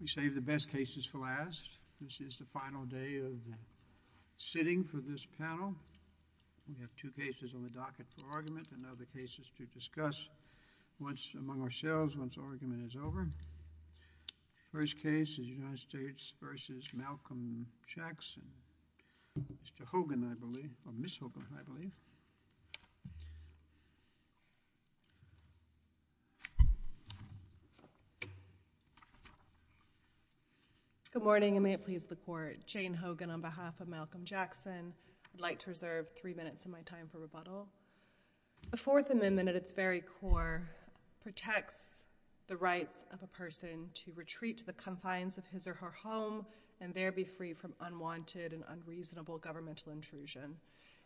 we save the best cases for last this is the final day of sitting for this panel we have two cases on the docket for argument and other cases to discuss once among ourselves once argument is over first case is United States versus Malcolm Jackson Mr. Hogan I believe or Miss Hogan I believe good morning and may it please the court Jane Hogan on behalf of Malcolm Jackson I'd like to reserve three minutes of my time for rebuttal the Fourth Amendment at its very core protects the rights of a person to retreat to the confines of his or her home and there be free from unwanted and unreasonable governmental intrusion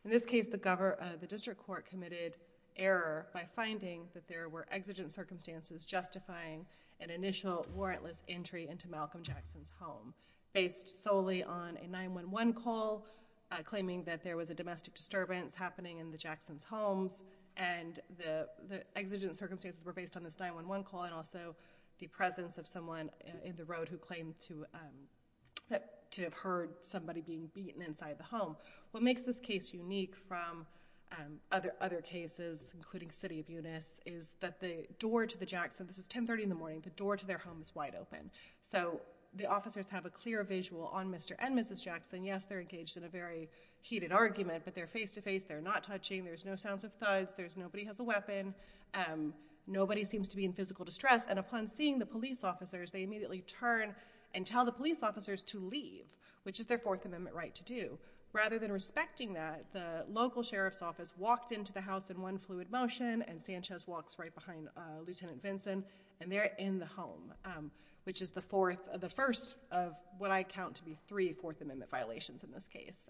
in this case the governor the district court committed error by finding that there were exigent circumstances justifying an initial warrantless entry into Malcolm Jackson's home based solely on a 911 call claiming that there was a domestic disturbance happening in the Jackson's homes and the the exigent circumstances were based on this 911 call and also the presence of someone in the road who claimed to have heard somebody being beaten inside the home what makes this case unique from other other cases including City of Eunice is that the door to the Jackson this is 1030 in the morning the door to their home is wide open so the officers have a clear visual on mr. and mrs. Jackson yes they're engaged in a very heated argument but they're face-to-face they're not touching there's no sounds of thugs there's nobody has a weapon nobody seems to be in physical distress and upon seeing the police officers they immediately turn and tell the police officers to leave which is their fourth amendment right to do rather than respecting that the local sheriff's office walked into the house in one fluid motion and Sanchez walks right behind lieutenant Vincent and they're in the home which is the fourth of the first of what I count to be three fourth amendment violations in this case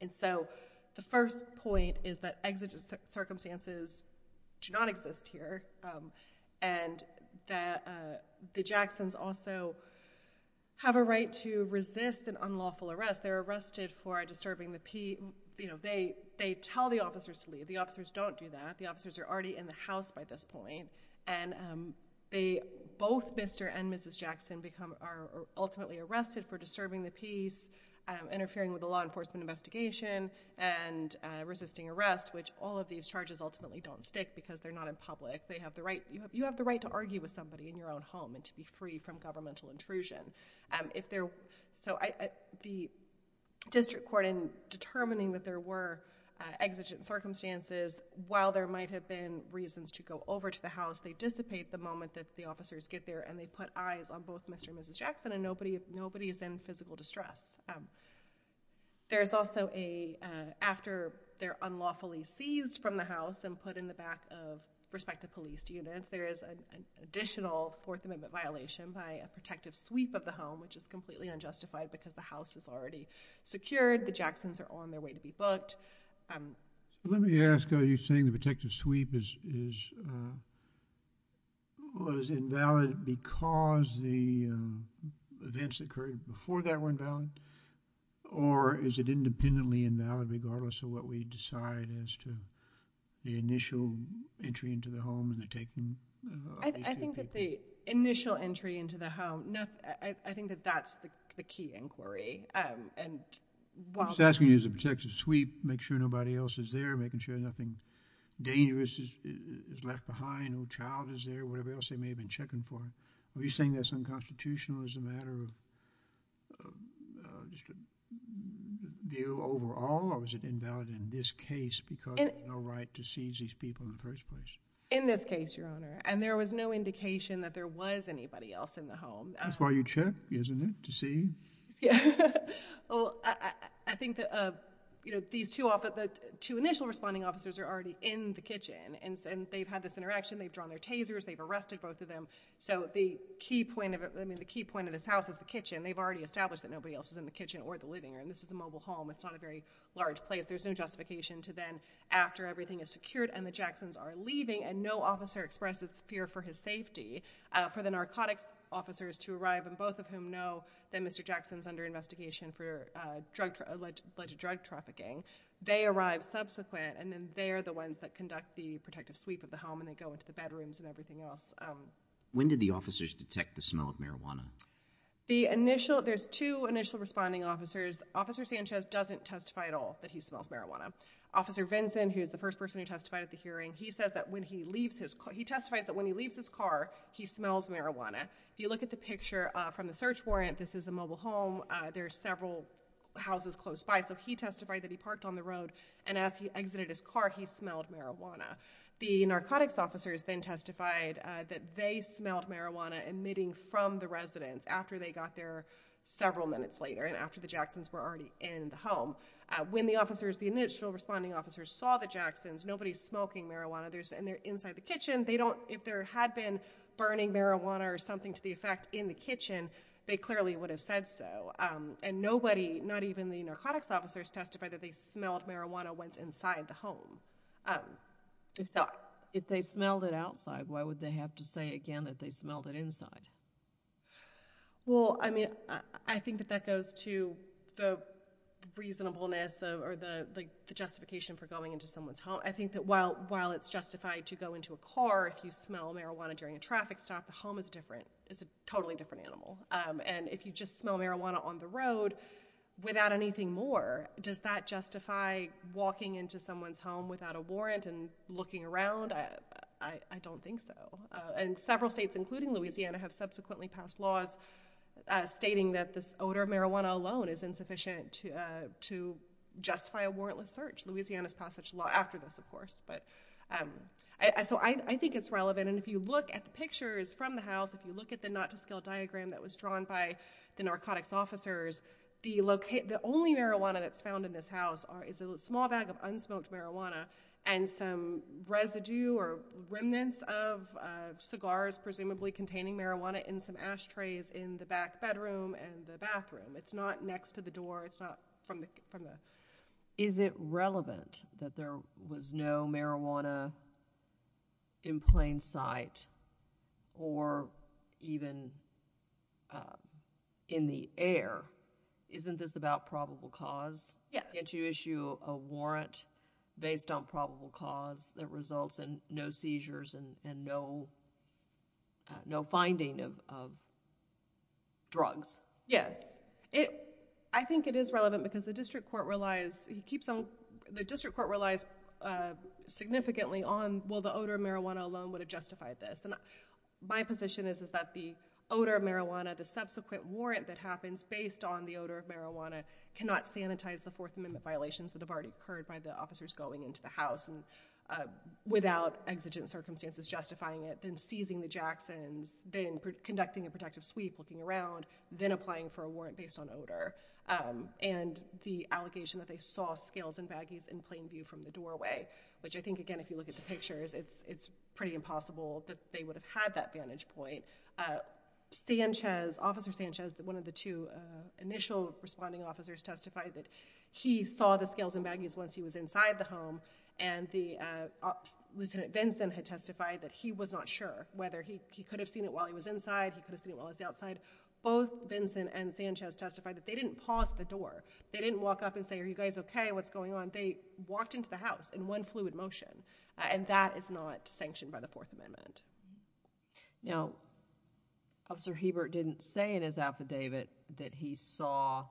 and so the first point is that exigent circumstances do not exist here and that the Jacksons also have a right to resist an unlawful arrest they're arrested for disturbing the pea you know they they tell the officers to leave the officers don't do that the officers are already in the house by this point and they both mr. and mrs. Jackson become are ultimately arrested for disturbing the interfering with the law enforcement investigation and resisting arrest which all of these charges ultimately don't stick because they're not in public they have the right you have you have the right to argue with somebody in your own home and to be free from governmental intrusion and if they're so I the district court in determining that there were exigent circumstances while there might have been reasons to go over to the house they dissipate the moment that the officers get there and they put eyes on both mr. and mrs. Jackson and nobody is in physical distress there's also a after they're unlawfully seized from the house and put in the back of respective police units there is an additional fourth amendment violation by a protective sweep of the home which is completely unjustified because the house is already secured the Jacksons are on their way to be booked let me ask are you saying the protective sweep is was valid because the events that occurred before that weren't valid or is it independently invalid regardless of what we decide as to the initial entry into the home and they're taking I think that the initial entry into the home no I think that that's the key inquiry and what's asking is a protective sweep make sure nobody else is there making sure nothing dangerous is left behind no child is there whatever else they may have been checking for are you saying that's unconstitutional as a matter of view overall or was it invalid in this case because it's no right to seize these people in the first place in this case your honor and there was no indication that there was anybody else in the home that's why you check isn't it to see yeah well I think that uh you know these two off at the two initial responding officers are already in the kitchen and since they've had this interaction they've drawn their tasers they've arrested both of them so the key point of it I mean the key point of this house is the kitchen they've already established that nobody else is in the kitchen or the living room this is a mobile home it's not a very large place there's no justification to then after everything is secured and the Jacksons are leaving and no officer expresses fear for his safety for the narcotics officers to arrive and both of whom know that mr. Jackson's under investigation for drug alleged drug trafficking they arrived subsequent and then they're the ones that conduct the protective sweep of the home and they go into the bedrooms and everything else when did the officers detect the smell of marijuana the initial there's two initial responding officers officer Sanchez doesn't testify at all that he smells marijuana officer Vinson who's the first person who testified at the hearing he says that when he leaves his car he testifies that when he leaves his car he smells marijuana if you look at the picture from the search warrant this is a mobile home there are several houses close by so he testified that he parked on the road and as he exited his car he smelled marijuana the narcotics officers then testified that they smelled marijuana emitting from the residents after they got there several minutes later and after the Jacksons were already in the home when the officers the initial responding officers saw the Jacksons nobody's smoking marijuana there's and they're inside the kitchen they don't if there had been burning marijuana or something to the effect in the kitchen they clearly would have said so and nobody not even the narcotics officers testified that they smelled marijuana went inside the home so if they smelled it outside why would they have to say again that they smelled it inside well I mean I think that that goes to the reasonableness or the justification for going into someone's home I think that while while it's justified to go into a car if you smell marijuana during a traffic stop the home is different it's a totally different animal and if you just smell marijuana on the road without anything more does that justify walking into someone's home without a warrant and looking around I don't think so and several states including Louisiana have subsequently passed laws stating that this odor of marijuana alone is insufficient to to justify a warrantless search Louisiana's passage law after this of course but so I think it's relevant and if you look at the pictures from the house if you look at the not-to-scale diagram that was drawn by the narcotics officers the locate the only marijuana that's found in this house is a small bag of unsmoked marijuana and some residue or remnants of cigars presumably containing marijuana in some ashtrays in the back bedroom and the bathroom it's not next to the door it's not from the from the is it relevant that there was no marijuana in plain sight or even in the air isn't this about probable cause yeah can't you issue a warrant based on probable cause that results in no seizures and no no finding of drugs yes it I think it is relevant because the court relies he keeps on the district court relies significantly on well the odor of marijuana alone would have justified this and my position is is that the odor of marijuana the subsequent warrant that happens based on the odor of marijuana cannot sanitize the Fourth Amendment violations that have already occurred by the officers going into the house and without exigent circumstances justifying it then seizing the Jackson's then conducting a protective sweep looking around then applying for a warrant based on odor and the allegation that they saw scales and baggies in plain view from the doorway which I think again if you look at the pictures it's it's pretty impossible that they would have had that vantage point Sanchez officer Sanchez that one of the two initial responding officers testified that he saw the scales and baggies once he was inside the home and the Lieutenant Vincent had testified that he was not sure whether he could have seen it while he was inside he could have seen it was outside both Vincent and Sanchez testified that they didn't pause the door they didn't walk up and say are you guys okay what's going on they walked into the house in one fluid motion and that is not sanctioned by the Fourth Amendment now officer Hebert didn't say in his affidavit that he saw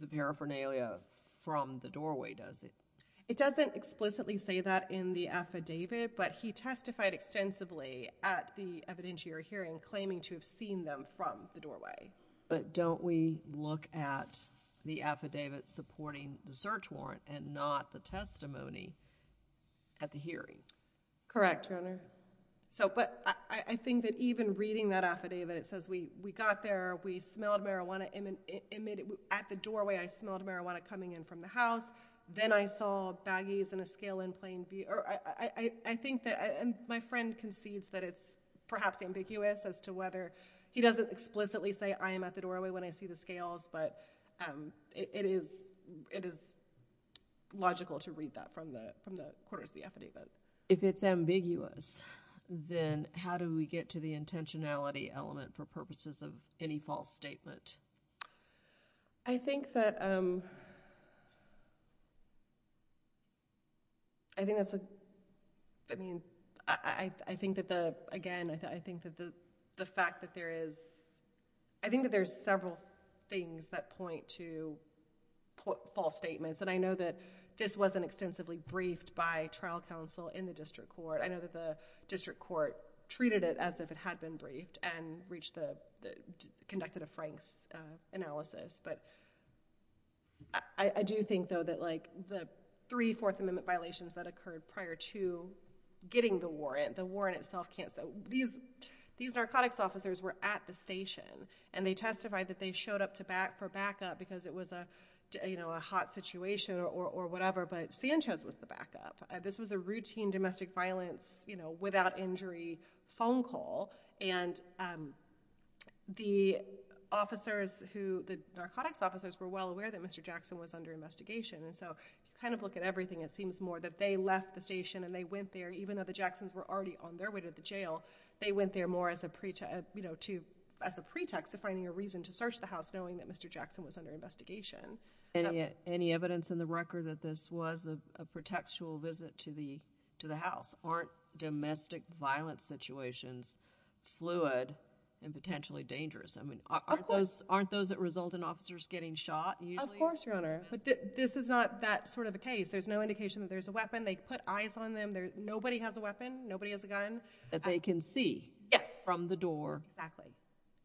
the paraphernalia from the doorway does it it doesn't explicitly say that in the affidavit but he testified extensively at the evidentiary hearing claiming to have seen them from the doorway but don't we look at the affidavit supporting the search warrant and not the testimony at the hearing correct your honor so but I think that even reading that affidavit it says we we got there we smelled marijuana in an image at the doorway I smelled marijuana coming in from the house then I saw baggies and a scale in plain view I think that and my friend concedes that it's perhaps ambiguous as to whether he doesn't explicitly say I am at the doorway when I see the scales but it is it is logical to read that from the from the quarters the affidavit if it's ambiguous then how do we get to the intentionality element for purposes of any false statement I think that I think that's a I think that the again I think that the the fact that there is I think that there's several things that point to false statements and I know that this wasn't extensively briefed by trial counsel in the district court I know that the district court treated it as if it had been briefed and reached the conducted a Frank's analysis but I do think though that like the three fourth amendment violations that occurred prior to getting the warrant the warrant itself can't so these these narcotics officers were at the station and they testified that they showed up to back for backup because it was a you know a hot situation or whatever but Sanchez was the backup this was a routine domestic violence you know without injury phone call and the officers who the narcotics officers were well aware that mr. Jackson was under investigation and so you kind of look at it seems more that they left the station and they went there even though the Jacksons were already on their way to the jail they went there more as a preacher you know to as a pretext of finding a reason to search the house knowing that mr. Jackson was under investigation and yet any evidence in the record that this was a pretextual visit to the to the house aren't domestic violence situations fluid and potentially dangerous I mean aren't those aren't those that result in officers getting shot you of course your case there's no indication that there's a weapon they put eyes on them there nobody has a weapon nobody has a gun that they can see yes from the door exactly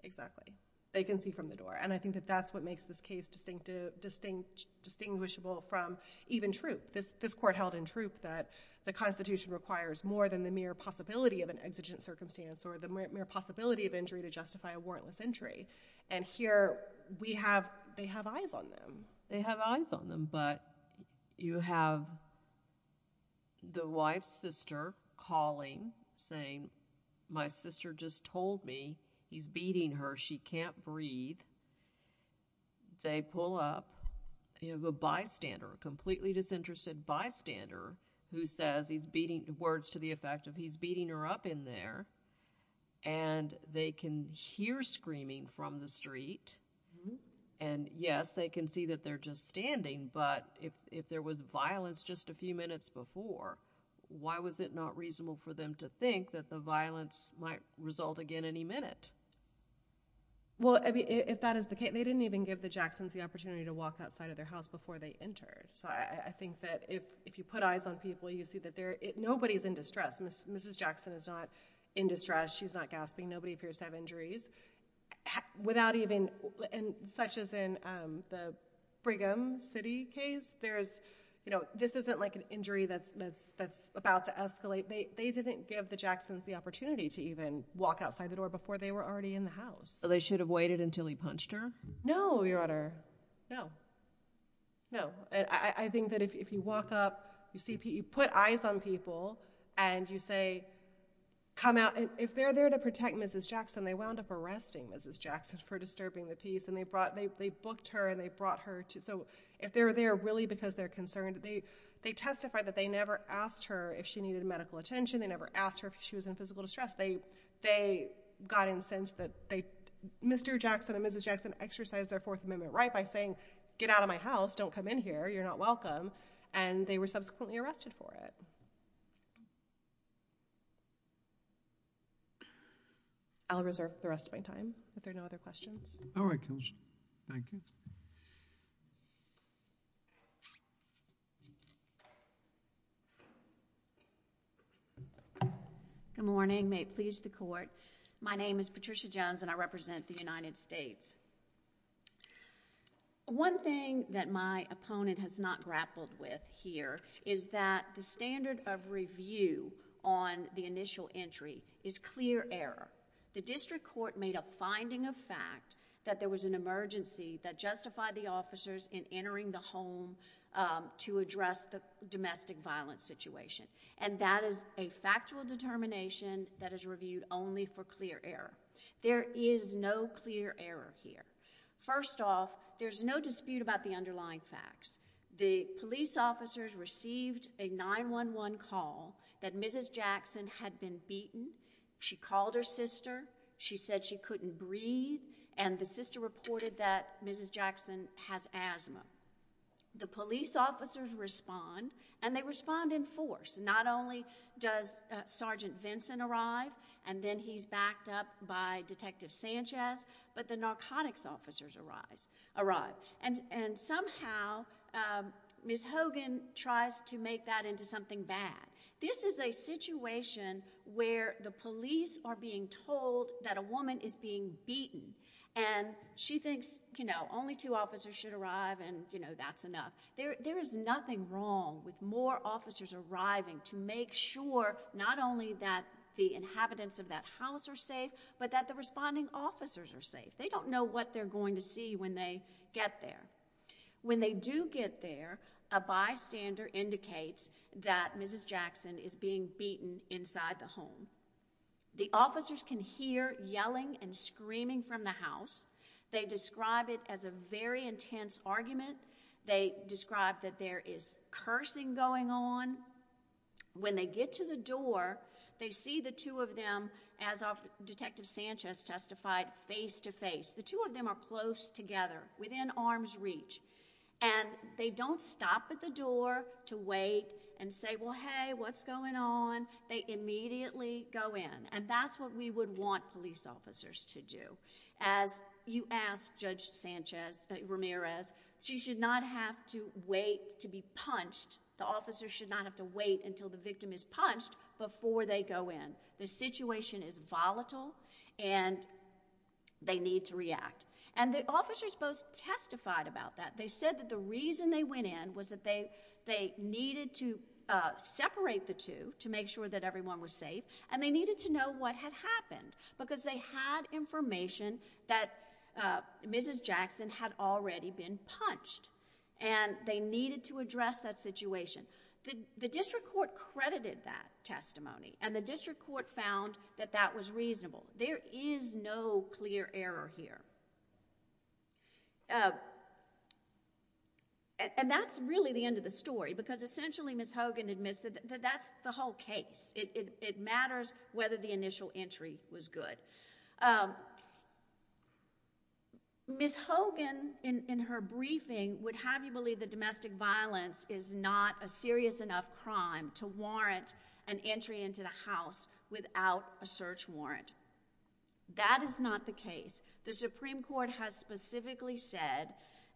exactly they can see from the door and I think that that's what makes this case distinctive distinct distinguishable from even troop this this court held in troop that the Constitution requires more than the mere possibility of an exigent circumstance or the mere possibility of injury to justify a warrantless entry and here we have they have eyes on them they have eyes on them but you have the wife's sister calling saying my sister just told me he's beating her she can't breathe they pull up you have a bystander a completely disinterested bystander who says he's beating the words to the effect of he's beating her up in there and they can hear screaming from the street and yes they can see that they're just standing but if there was violence just a few minutes before why was it not reasonable for them to think that the violence might result again any minute well if that is the case they didn't even give the Jacksons the opportunity to walk outside of their house before they entered so I think that if you put eyes on people you see that there it nobody's in distress miss mrs. Jackson is not in distress she's not gasping nobody appears to have injuries without even and such as in the Brigham City case there's you know this isn't like an injury that's that's that's about to escalate they they didn't give the Jacksons the opportunity to even walk outside the door before they were already in the house so they should have waited until he punched her no your honor no no I think that if you walk up you see Pete you put eyes on people and you say come out and if they're there to protect mrs. Jackson they wound up arresting mrs. Jackson for disturbing the peace and they brought they booked her and they brought her to so if they're there really because they're concerned they they testified that they never asked her if she needed medical attention they never asked her if she was in physical distress they they got in the sense that they mr. Jackson and mrs. Jackson exercised their fourth amendment right by saying get out of my house don't come in here you're not welcome and they were subsequently arrested for it I'll reserve the rest of my time but there are no other questions all right thank you good morning may it please the court my name is Patricia Jones and I represent the United States one thing that my opponent has not grappled with here is that the standard of review on the initial entry is clear error the district court made a finding of fact that there was an emergency that justified the officers in entering the home to address the domestic violence situation and that is a factual determination that is reviewed only for clear error there is no clear error here first off there's no dispute about the underlying facts the police officers received a 9-1-1 call that mrs. Jackson had been beaten she called her sister she said she couldn't breathe and the sister reported that mrs. Jackson has asthma the police officers respond and they respond in force not only does sergeant Vincent arrive and then he's backed up by detective Sanchez but the narcotics officers arise arrive and and somehow miss Hogan tries to make that into something bad this is a situation where the police are being told that a woman is being beaten and she thinks you know only two officers should arrive and you know that's enough there there is nothing wrong with more officers arriving to make sure not only that the inhabitants of that house are safe but that the responding officers are safe they don't know what they're going to see when they get there when they do get there a bystander indicates that mrs. Jackson is being beaten inside the home the officers can hear yelling and screaming from the house they describe it as a very intense argument they described that there is cursing going on when they get to the door they see the two of them as our detective Sanchez testified face-to-face the two of them are close together within arm's reach and they don't stop at the door to wait and say well hey what's going on they immediately go in and that's what we would want police officers to do as you asked judge Sanchez Ramirez she should not have to wait to be punched the officers should not have to wait until the victim is punched before they go in the situation is volatile and they need to react and the officers both testified about that they said that the reason they went in was that they they needed to separate the two to make sure that everyone was safe and they needed to know what had happened because they had information that mrs. Jackson had already been punched and they needed to address that situation the district court credited that testimony and the district court found that that was reasonable there is no clear error here and that's really the end of the story because essentially miss Hogan admits that that's the whole case it matters whether the initial entry was good miss Hogan in her briefing would have you believe that domestic violence is not a serious enough crime to warrant an entry into the house without a search warrant that is not the case the Supreme Court has specifically said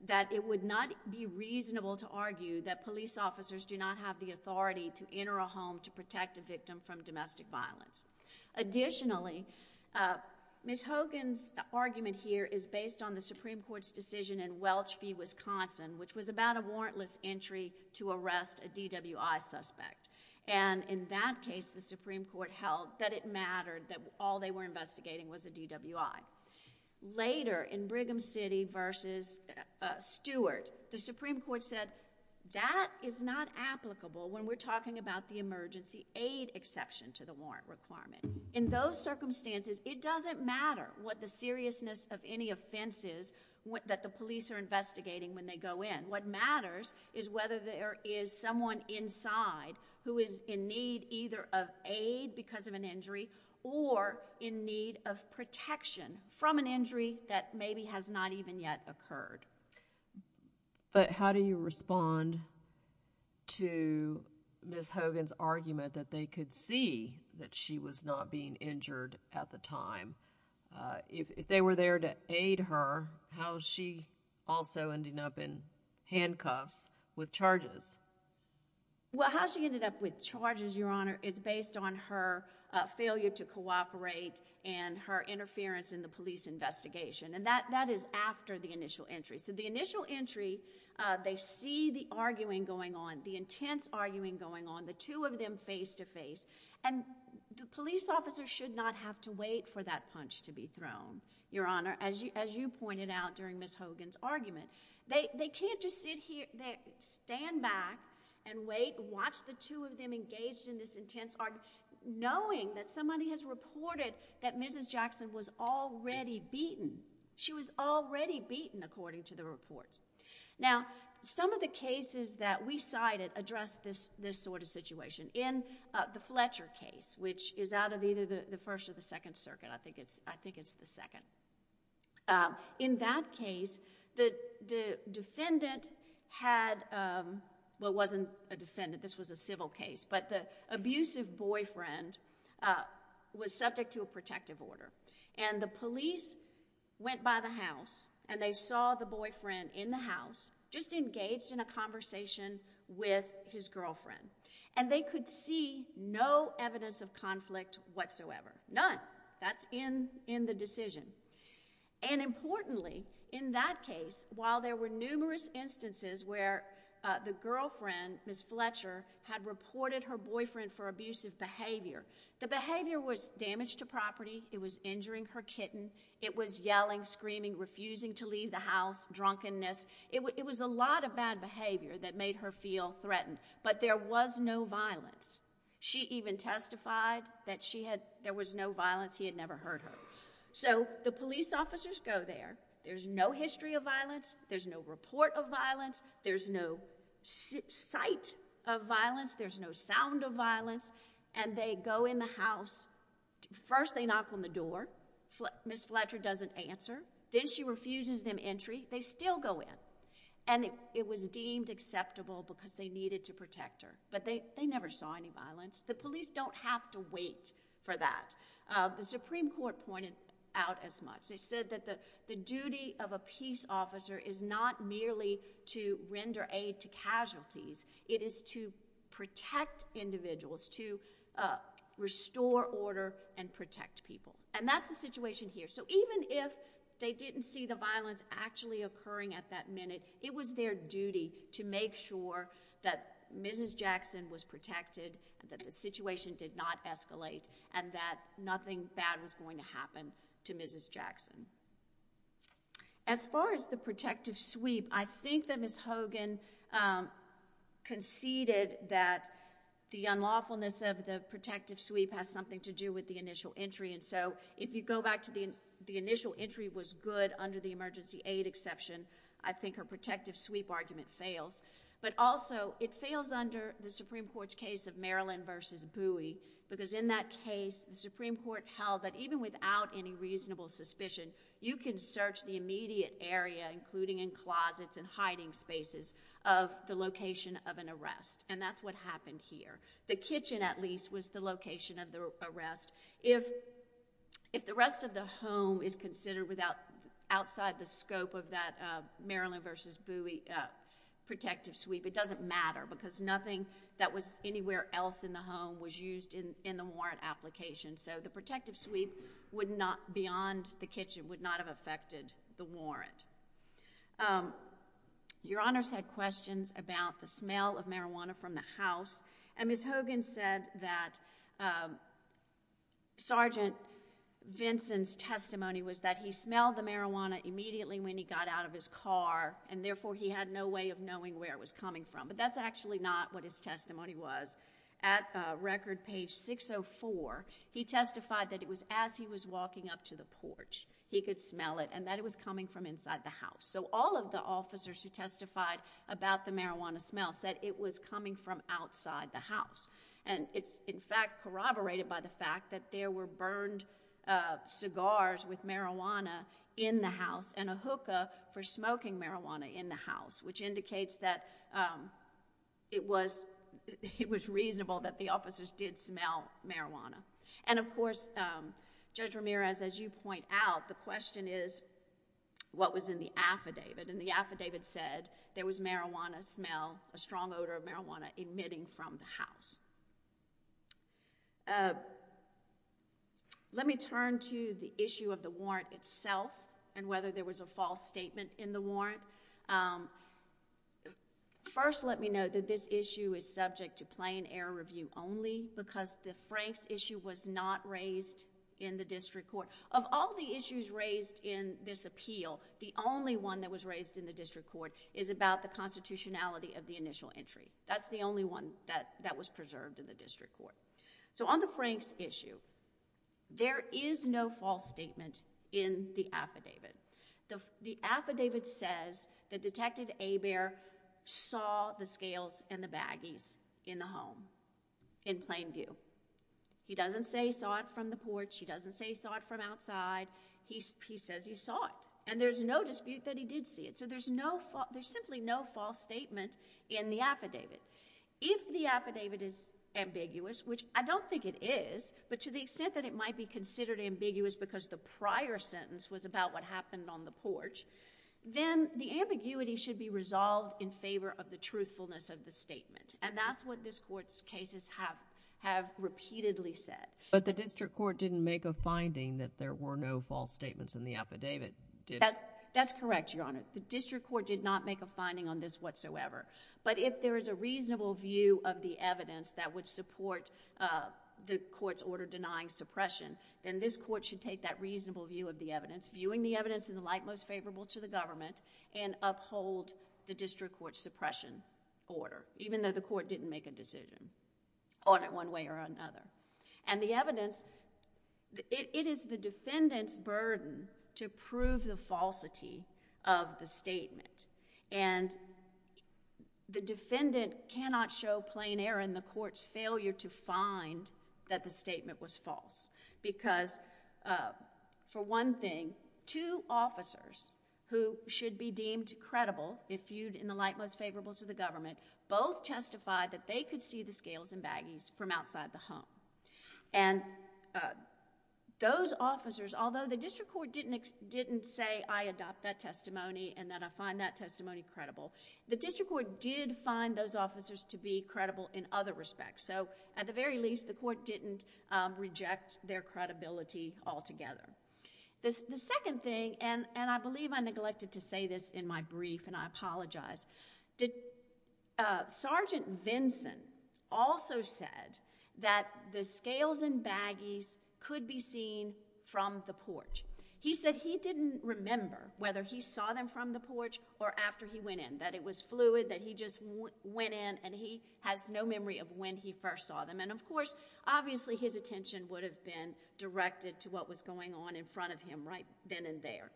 that it would not be reasonable to argue that police officers do not have the authority to enter a home to protect a victim from domestic violence additionally miss Hogan's argument here is based on the Supreme Court's decision in Welch v. Wisconsin which was about a warrantless entry to arrest a DWI suspect and in that case the Supreme Court held that it mattered that all they were investigating was a DWI later in Brigham City versus Stewart the Supreme Court said that is not applicable when we're talking about the aid exception to the warrant requirement in those circumstances it doesn't matter what the seriousness of any offenses that the police are investigating when they go in what matters is whether there is someone inside who is in need either of aid because of an injury or in need of protection from an injury that maybe has not even yet occurred but how do you respond to miss Hogan's argument that they could see that she was not being injured at the time if they were there to aid her how she also ended up in handcuffs with charges well how she ended up with charges your honor is based on her failure to cooperate and her interference in the police investigation and that that is after the initial entry so the initial entry they see the arguing going on the intense arguing going on the two of them face to face and the police officer should not have to wait for that punch to be thrown your honor as you as you pointed out during miss Hogan's argument they can't just sit here they stand back and wait watch the two of them engaged in this intense are knowing that somebody has reported that mrs. Jackson was already beaten she was already beaten according to the reports now some of the cases that we cited address this this sort of situation in the Fletcher case which is out of either the first or the Second Circuit I think it's I think it's the second in that case that the defendant had what wasn't a defendant this was a civil case but the abusive boyfriend was subject to a protective order and the police went by the house and they saw the boyfriend in the house just engaged in a conversation with his girlfriend and they could see no evidence of conflict whatsoever none that's in in the decision and importantly in that case while there were numerous instances where the girlfriend miss Fletcher had reported her boyfriend for abusive behavior the behavior was damaged to property it was injuring her kitten it was yelling screaming refusing to leave the house drunkenness it was it was a lot of bad behavior that made her feel threatened but there was no violence she even testified that she had there was no violence he had never heard so the police officers go there there's no history of violence there's no report of violence there's no sight of violence there's no sound of violence and they go in the house first they knock on the door miss Fletcher doesn't answer then she refuses them entry they still go in and it was deemed acceptable because they needed to protect her but they they never saw any violence the police don't have to wait for that the Supreme Court pointed out as much they said that the the duty of a peace officer is not merely to render aid to casualties it is to protect individuals to restore order and protect people and that's the situation here so even if they didn't see the violence actually occurring at that minute it was their duty to make sure that mrs. Jackson was protected that the situation did not escalate and that nothing bad was going to happen to mrs. Jackson as far as the protective sweep I think that miss Hogan conceded that the unlawfulness of the protective sweep has something to do with the initial entry and so if you go back to the the initial entry was good under the emergency aid exception I think her protective sweep argument fails but also it fails under the Supreme Court's case of Maryland versus buoy because in that case the Supreme Court held that even without any reasonable suspicion you can search the immediate area including in closets and hiding spaces of the location of an arrest and that's what happened here the kitchen at least was the location of the arrest if if the rest of the home is considered without outside the scope of that Maryland versus buoy protective sweep it doesn't matter because nothing that was anywhere else in the home was used in in the warrant application so the protective sweep would not beyond the kitchen would not have affected the warrant your honors had questions about the smell of marijuana from the house and miss Hogan said that sergeant Vincent's testimony was that he smelled the marijuana immediately when he got out of his car and therefore he had no way of knowing where it was coming from but that's actually not what his testimony was at record page 604 he testified that it was as he was walking up to the porch he could smell it and that it was coming from inside the house so all of the officers who testified about the marijuana smell said it was coming from outside the house and it's in fact corroborated by the fact that there were burned cigars with marijuana in the house and a hookah for smoking marijuana in the house which indicates that it was it was reasonable that the officers did smell marijuana and of course judge Ramirez as you point out the question is what was in the affidavit and the affidavit said there was marijuana smell a strong odor of marijuana emitting from the house let me turn to the issue of warrant itself and whether there was a false statement in the warrant first let me know that this issue is subject to plain error review only because the Franks issue was not raised in the district court of all the issues raised in this appeal the only one that was raised in the district court is about the constitutionality of the initial entry that's the only one that that was preserved in the district court so on the Franks issue there is no false statement in the affidavit the affidavit says that detective a bear saw the scales and the baggies in the home in plain view he doesn't say saw it from the porch he doesn't say saw it from outside he says he saw it and there's no dispute that he did see it so there's no there's simply no false statement in the affidavit if the affidavit is ambiguous which I don't think it is but to the extent that it might be considered ambiguous because the prior sentence was about what happened on the porch then the ambiguity should be resolved in favor of the truthfulness of the statement and that's what this court's cases have have repeatedly said but the district court didn't make a finding that there were no false statements in the affidavit did that's correct your honor the district court did not make a finding on this whatsoever but if there is a reasonable view of the evidence that would support the court's order denying suppression then this court should take that reasonable view of the evidence viewing the evidence in the light most favorable to the government and uphold the district court suppression order even though the court didn't make a decision on it one way or another and the evidence it is the defendant's burden to prove the falsity of the statement and the defendant cannot show plain error in the court's failure to find that the statement was false because for one thing two officers who should be deemed credible if viewed in the light most favorable to the government both testified that they could see the scales and baggies from outside the home and those officers although the district court didn't didn't say I adopt that testimony and that I find that testimony credible the district court did find those officers to be credible in other respects so at the very least the court didn't reject their credibility altogether this the second thing and and I believe I neglected to say this in my brief and I apologize did Sergeant Vinson also said that the scales and baggies could be seen from the porch he said he didn't remember whether he saw them from the porch or after he went in that it was fluid that he just went in and he has no memory of when he first saw them and of course obviously his attention would have been directed to what was going on in front of him right then and there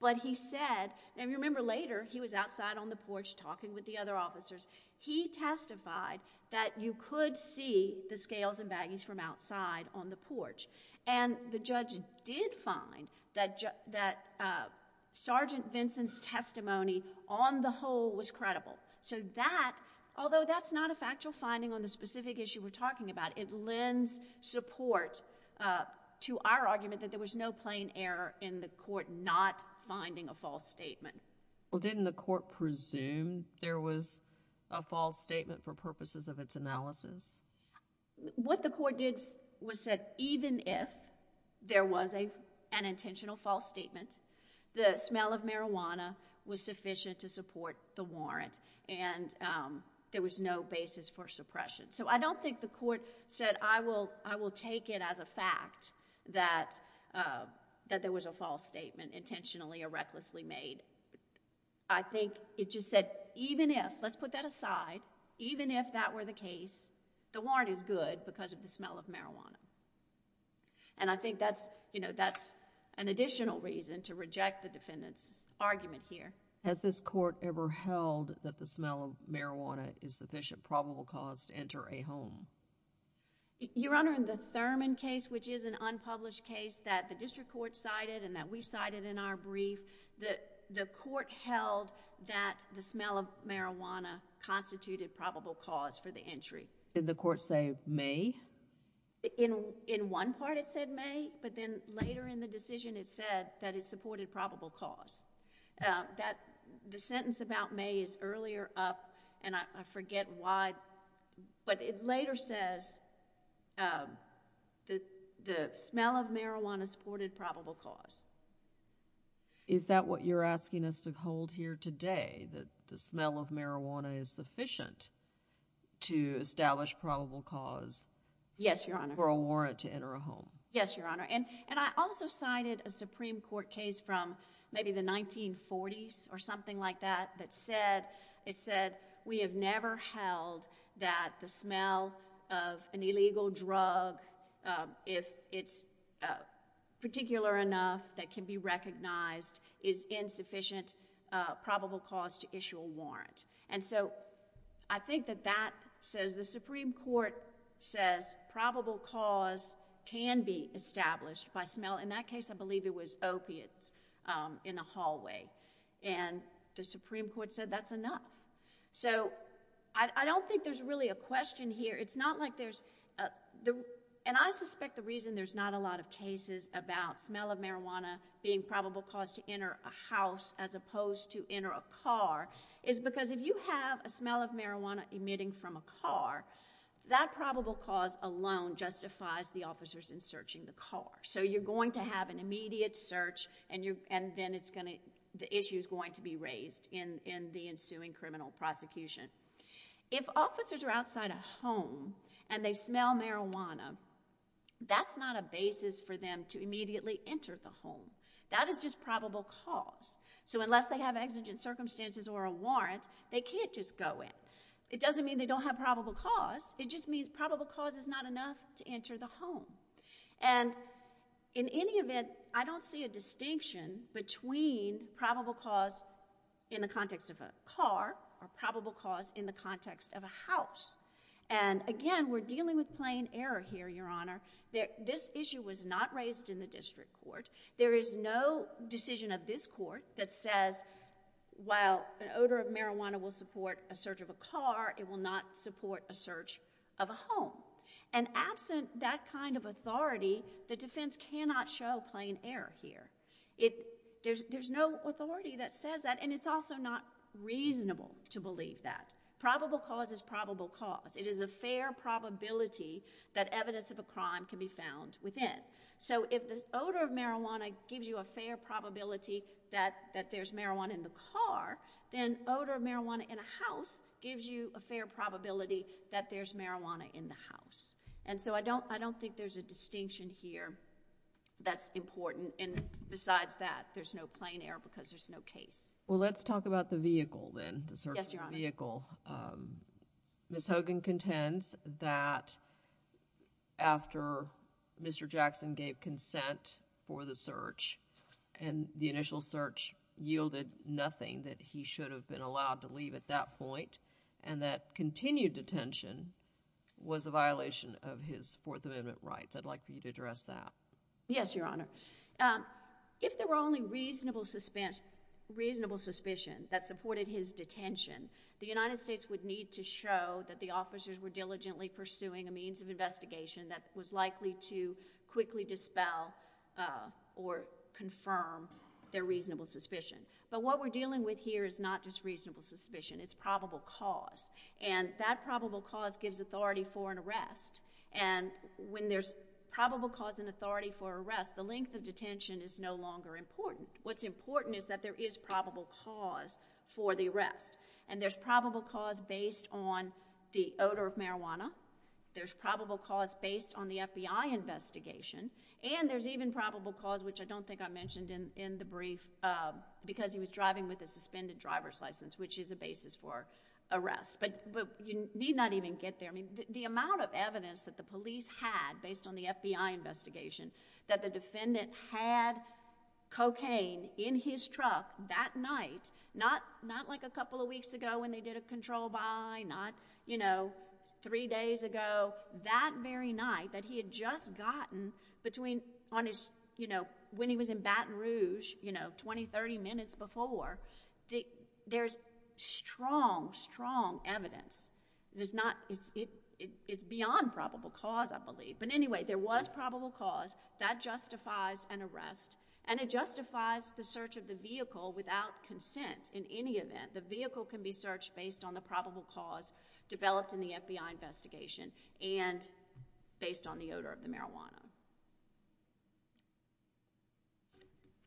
but he said and remember later he was outside on the porch talking with the other officers he testified that you could see the scales and baggies from outside on the porch and the judge did find that that Sergeant Vinson's testimony on the whole was credible so that although that's not a factual finding on the specific issue we're talking about it lends support to our argument that there was no plain error in the court not finding a false statement well didn't the court presume there was a false statement for purposes of its analysis what the court did was even if there was a an intentional false statement the smell of marijuana was sufficient to support the warrant and there was no basis for suppression so I don't think the court said I will I will take it as a fact that that there was a false statement intentionally or recklessly made I think it just said even if let's put that aside even if that were the case the warrant is good because of the smell of marijuana and I think that's you know that's an additional reason to reject the defendant's argument here has this court ever held that the smell of marijuana is sufficient probable cause to enter a home your honor in the Thurman case which is an unpublished case that the district court cited and that we cited in our brief that the court held that the smell of marijuana constituted probable cause for the entry did the court say may in in one part it said may but then later in the decision it said that it supported probable cause that the sentence about may is earlier up and I forget why but it later says that the smell of marijuana supported probable cause is that what you're asking us to hold here today that the smell of marijuana is sufficient to establish probable cause yes your honor or a warrant to enter a home yes your honor and and I also cited a Supreme Court case from maybe the 1940s or something like that that said it said we have never held that the smell of an illegal drug if it's particular enough that can be recognized is insufficient probable cause to issue a warrant and so I think that that says the Supreme Court says probable cause can be established by smell in that case I believe it was opiates in a hallway and the Supreme Court said that's enough so I don't think there's really a question here it's not like there's the and I suspect the reason there's not a lot of cases about smell of marijuana being probable cause to enter a house as opposed to enter a car is because if you have a smell of marijuana emitting from a car that probable cause alone justifies the officers in searching the car so you're going to have an immediate search and you and then it's going to the issues going to be raised in in the ensuing criminal prosecution if officers are and they smell marijuana that's not a basis for them to immediately enter the home that is just probable cause so unless they have exigent circumstances or a warrant they can't just go in it doesn't mean they don't have probable cause it just means probable cause is not enough to enter the home and in any event I don't see a distinction between probable cause in the context of a car or probable cause in the context of a house and again we're dealing with plain error here your honor that this issue was not raised in the district court there is no decision of this court that says while an odor of marijuana will support a search of a car it will not support a search of a home and absent that kind of authority the defense cannot show plain error here it there's no authority that says that and it's also not reasonable to believe that probable cause is probable cause it is a fair probability that evidence of a crime can be found within so if this odor of marijuana gives you a fair probability that that there's marijuana in the car then odor of marijuana in a house gives you a fair probability that there's marijuana in the house and so I don't I don't think there's a distinction here that's important and besides that there's no plain error because there's no case well let's talk about the vehicle then vehicle miss Hogan contends that after mr. Jackson gave consent for the search and the initial search yielded nothing that he should have been allowed to leave at that point and that continued detention was a violation of his Fourth Amendment rights I'd like for you to address that yes your honor if there were only reasonable suspense reasonable suspicion that supported his detention the United States would need to show that the officers were diligently pursuing a means of investigation that was likely to quickly dispel or confirm their reasonable suspicion but what we're dealing with here is not just reasonable suspicion it's probable cause and that probable cause gives authority for an arrest and when there's probable cause and authority for arrest the length of detention is no longer important what's important is that there is probable cause for the arrest and there's probable cause based on the odor of marijuana there's probable cause based on the FBI investigation and there's even probable cause which I don't think I mentioned in in the brief because he was driving with a suspended driver's license which is a basis for arrest but you need not even get there the amount of evidence that the police had based on the FBI investigation that the defendant had cocaine in his truck that night not not like a couple of weeks ago when they did a control by not you know three days ago that very night that he had just gotten between on his you know when he was in Baton Rouge you know 20-30 minutes before the there's strong strong evidence there's not it's it it's beyond probable cause I believe but anyway there was probable cause that justifies an arrest and it justifies the search of the vehicle without consent in any event the vehicle can be searched based on the probable cause developed in the FBI investigation and based on the odor of the marijuana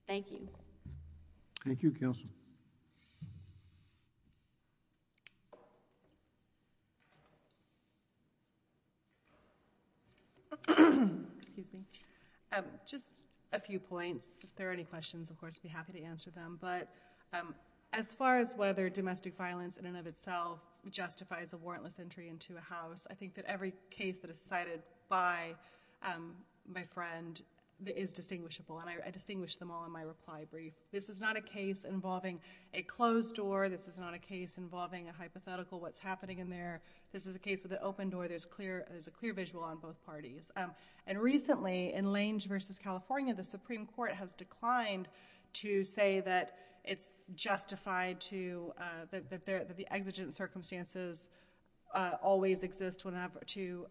thank you thank you counsel excuse me just a few points if there are any questions of course be happy to answer them but as far as whether domestic violence in and of itself justifies a warrantless entry into a house I think that every case that is cited by my friend is distinguishable and I distinguish them all in my reply brief this is not a case involving a closed door this is not a case involving a hypothetical what's happening in there this is a case with the open door there's clear as a clear visual on both parties and recently in lanes versus California the Supreme Court has declined to say that it's justified to that there the exigent circumstances always exist whenever to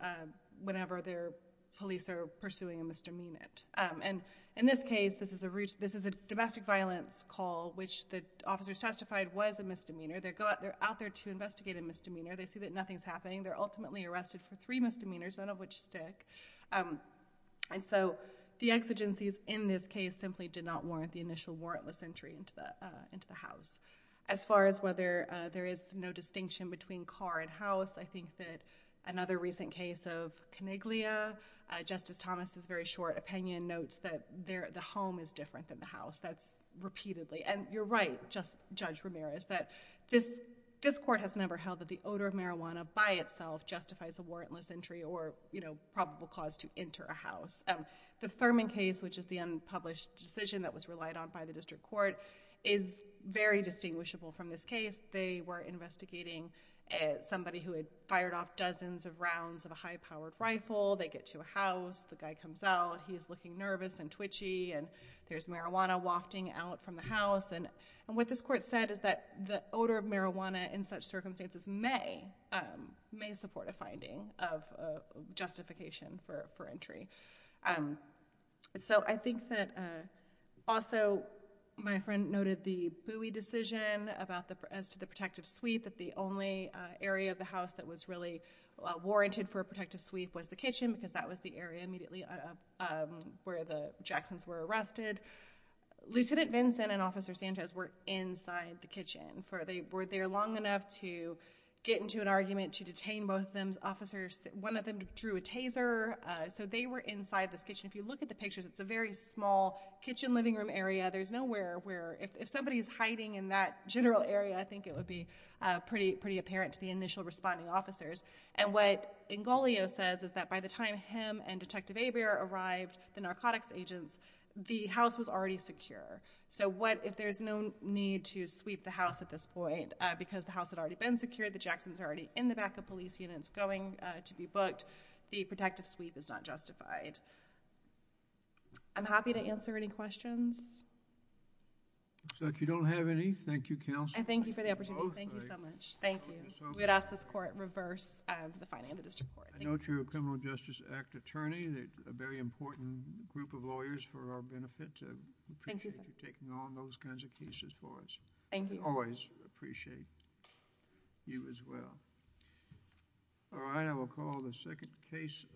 whenever their police are pursuing a misdemeanor and in this case this is a this is a domestic violence call which the officers testified was a misdemeanor they're got there out there to investigate a misdemeanor they see that nothing's happening they're ultimately arrested for three misdemeanors none of which stick and so the exigencies in this case simply did not warrant the initial warrantless entry into the into the house as far as whether there is no distinction between car and house I think that another recent case of coniglia justice Thomas is very short opinion notes that there the home is different than the house that's repeatedly and you're right just judge Ramirez that this this court has never held that the odor of marijuana by itself justifies a warrantless entry or you know probable cause to enter a house the Thurman case which is the unpublished decision that was relied on by the district court is very distinguishable from this case they were investigating somebody who had fired off dozens of rounds of a high-powered rifle they get to a house the guy comes out he's looking nervous and twitchy and there's marijuana wafting out from the house and and what this court said is that the odor of marijuana in such circumstances may may support a finding of justification for entry and so I think that also my friend noted the buoy decision about the press to the protective sweep that the only area of the house that was really warranted for a protective sweep was the kitchen because that was the area immediately where the Jacksons were arrested lieutenant Vincent and officer Sanchez were inside the kitchen for they were there long enough to get into an argument to detain both them's officers one of them drew a taser so they were inside this kitchen if you look at the pictures it's a very small kitchen living room area there's nowhere where if somebody's hiding in that general area I think it would be pretty pretty apparent to the initial responding officers and what in Galio says is that by the time him and detective a beer arrived the narcotics agents the house was already secure so what if there's no need to sweep the house at this point because the house had already been secured the Jacksons are already in the back of police units going to be booked the protective sweep is not justified I'm happy to answer any questions so if you don't have any Thank You counsel and thank you for the opportunity thank you so much thank you we had asked this the final justice act attorney that a very important group of lawyers for our benefit taking on those kinds of cases for us thank you always appreciate you as well all right I will call the second case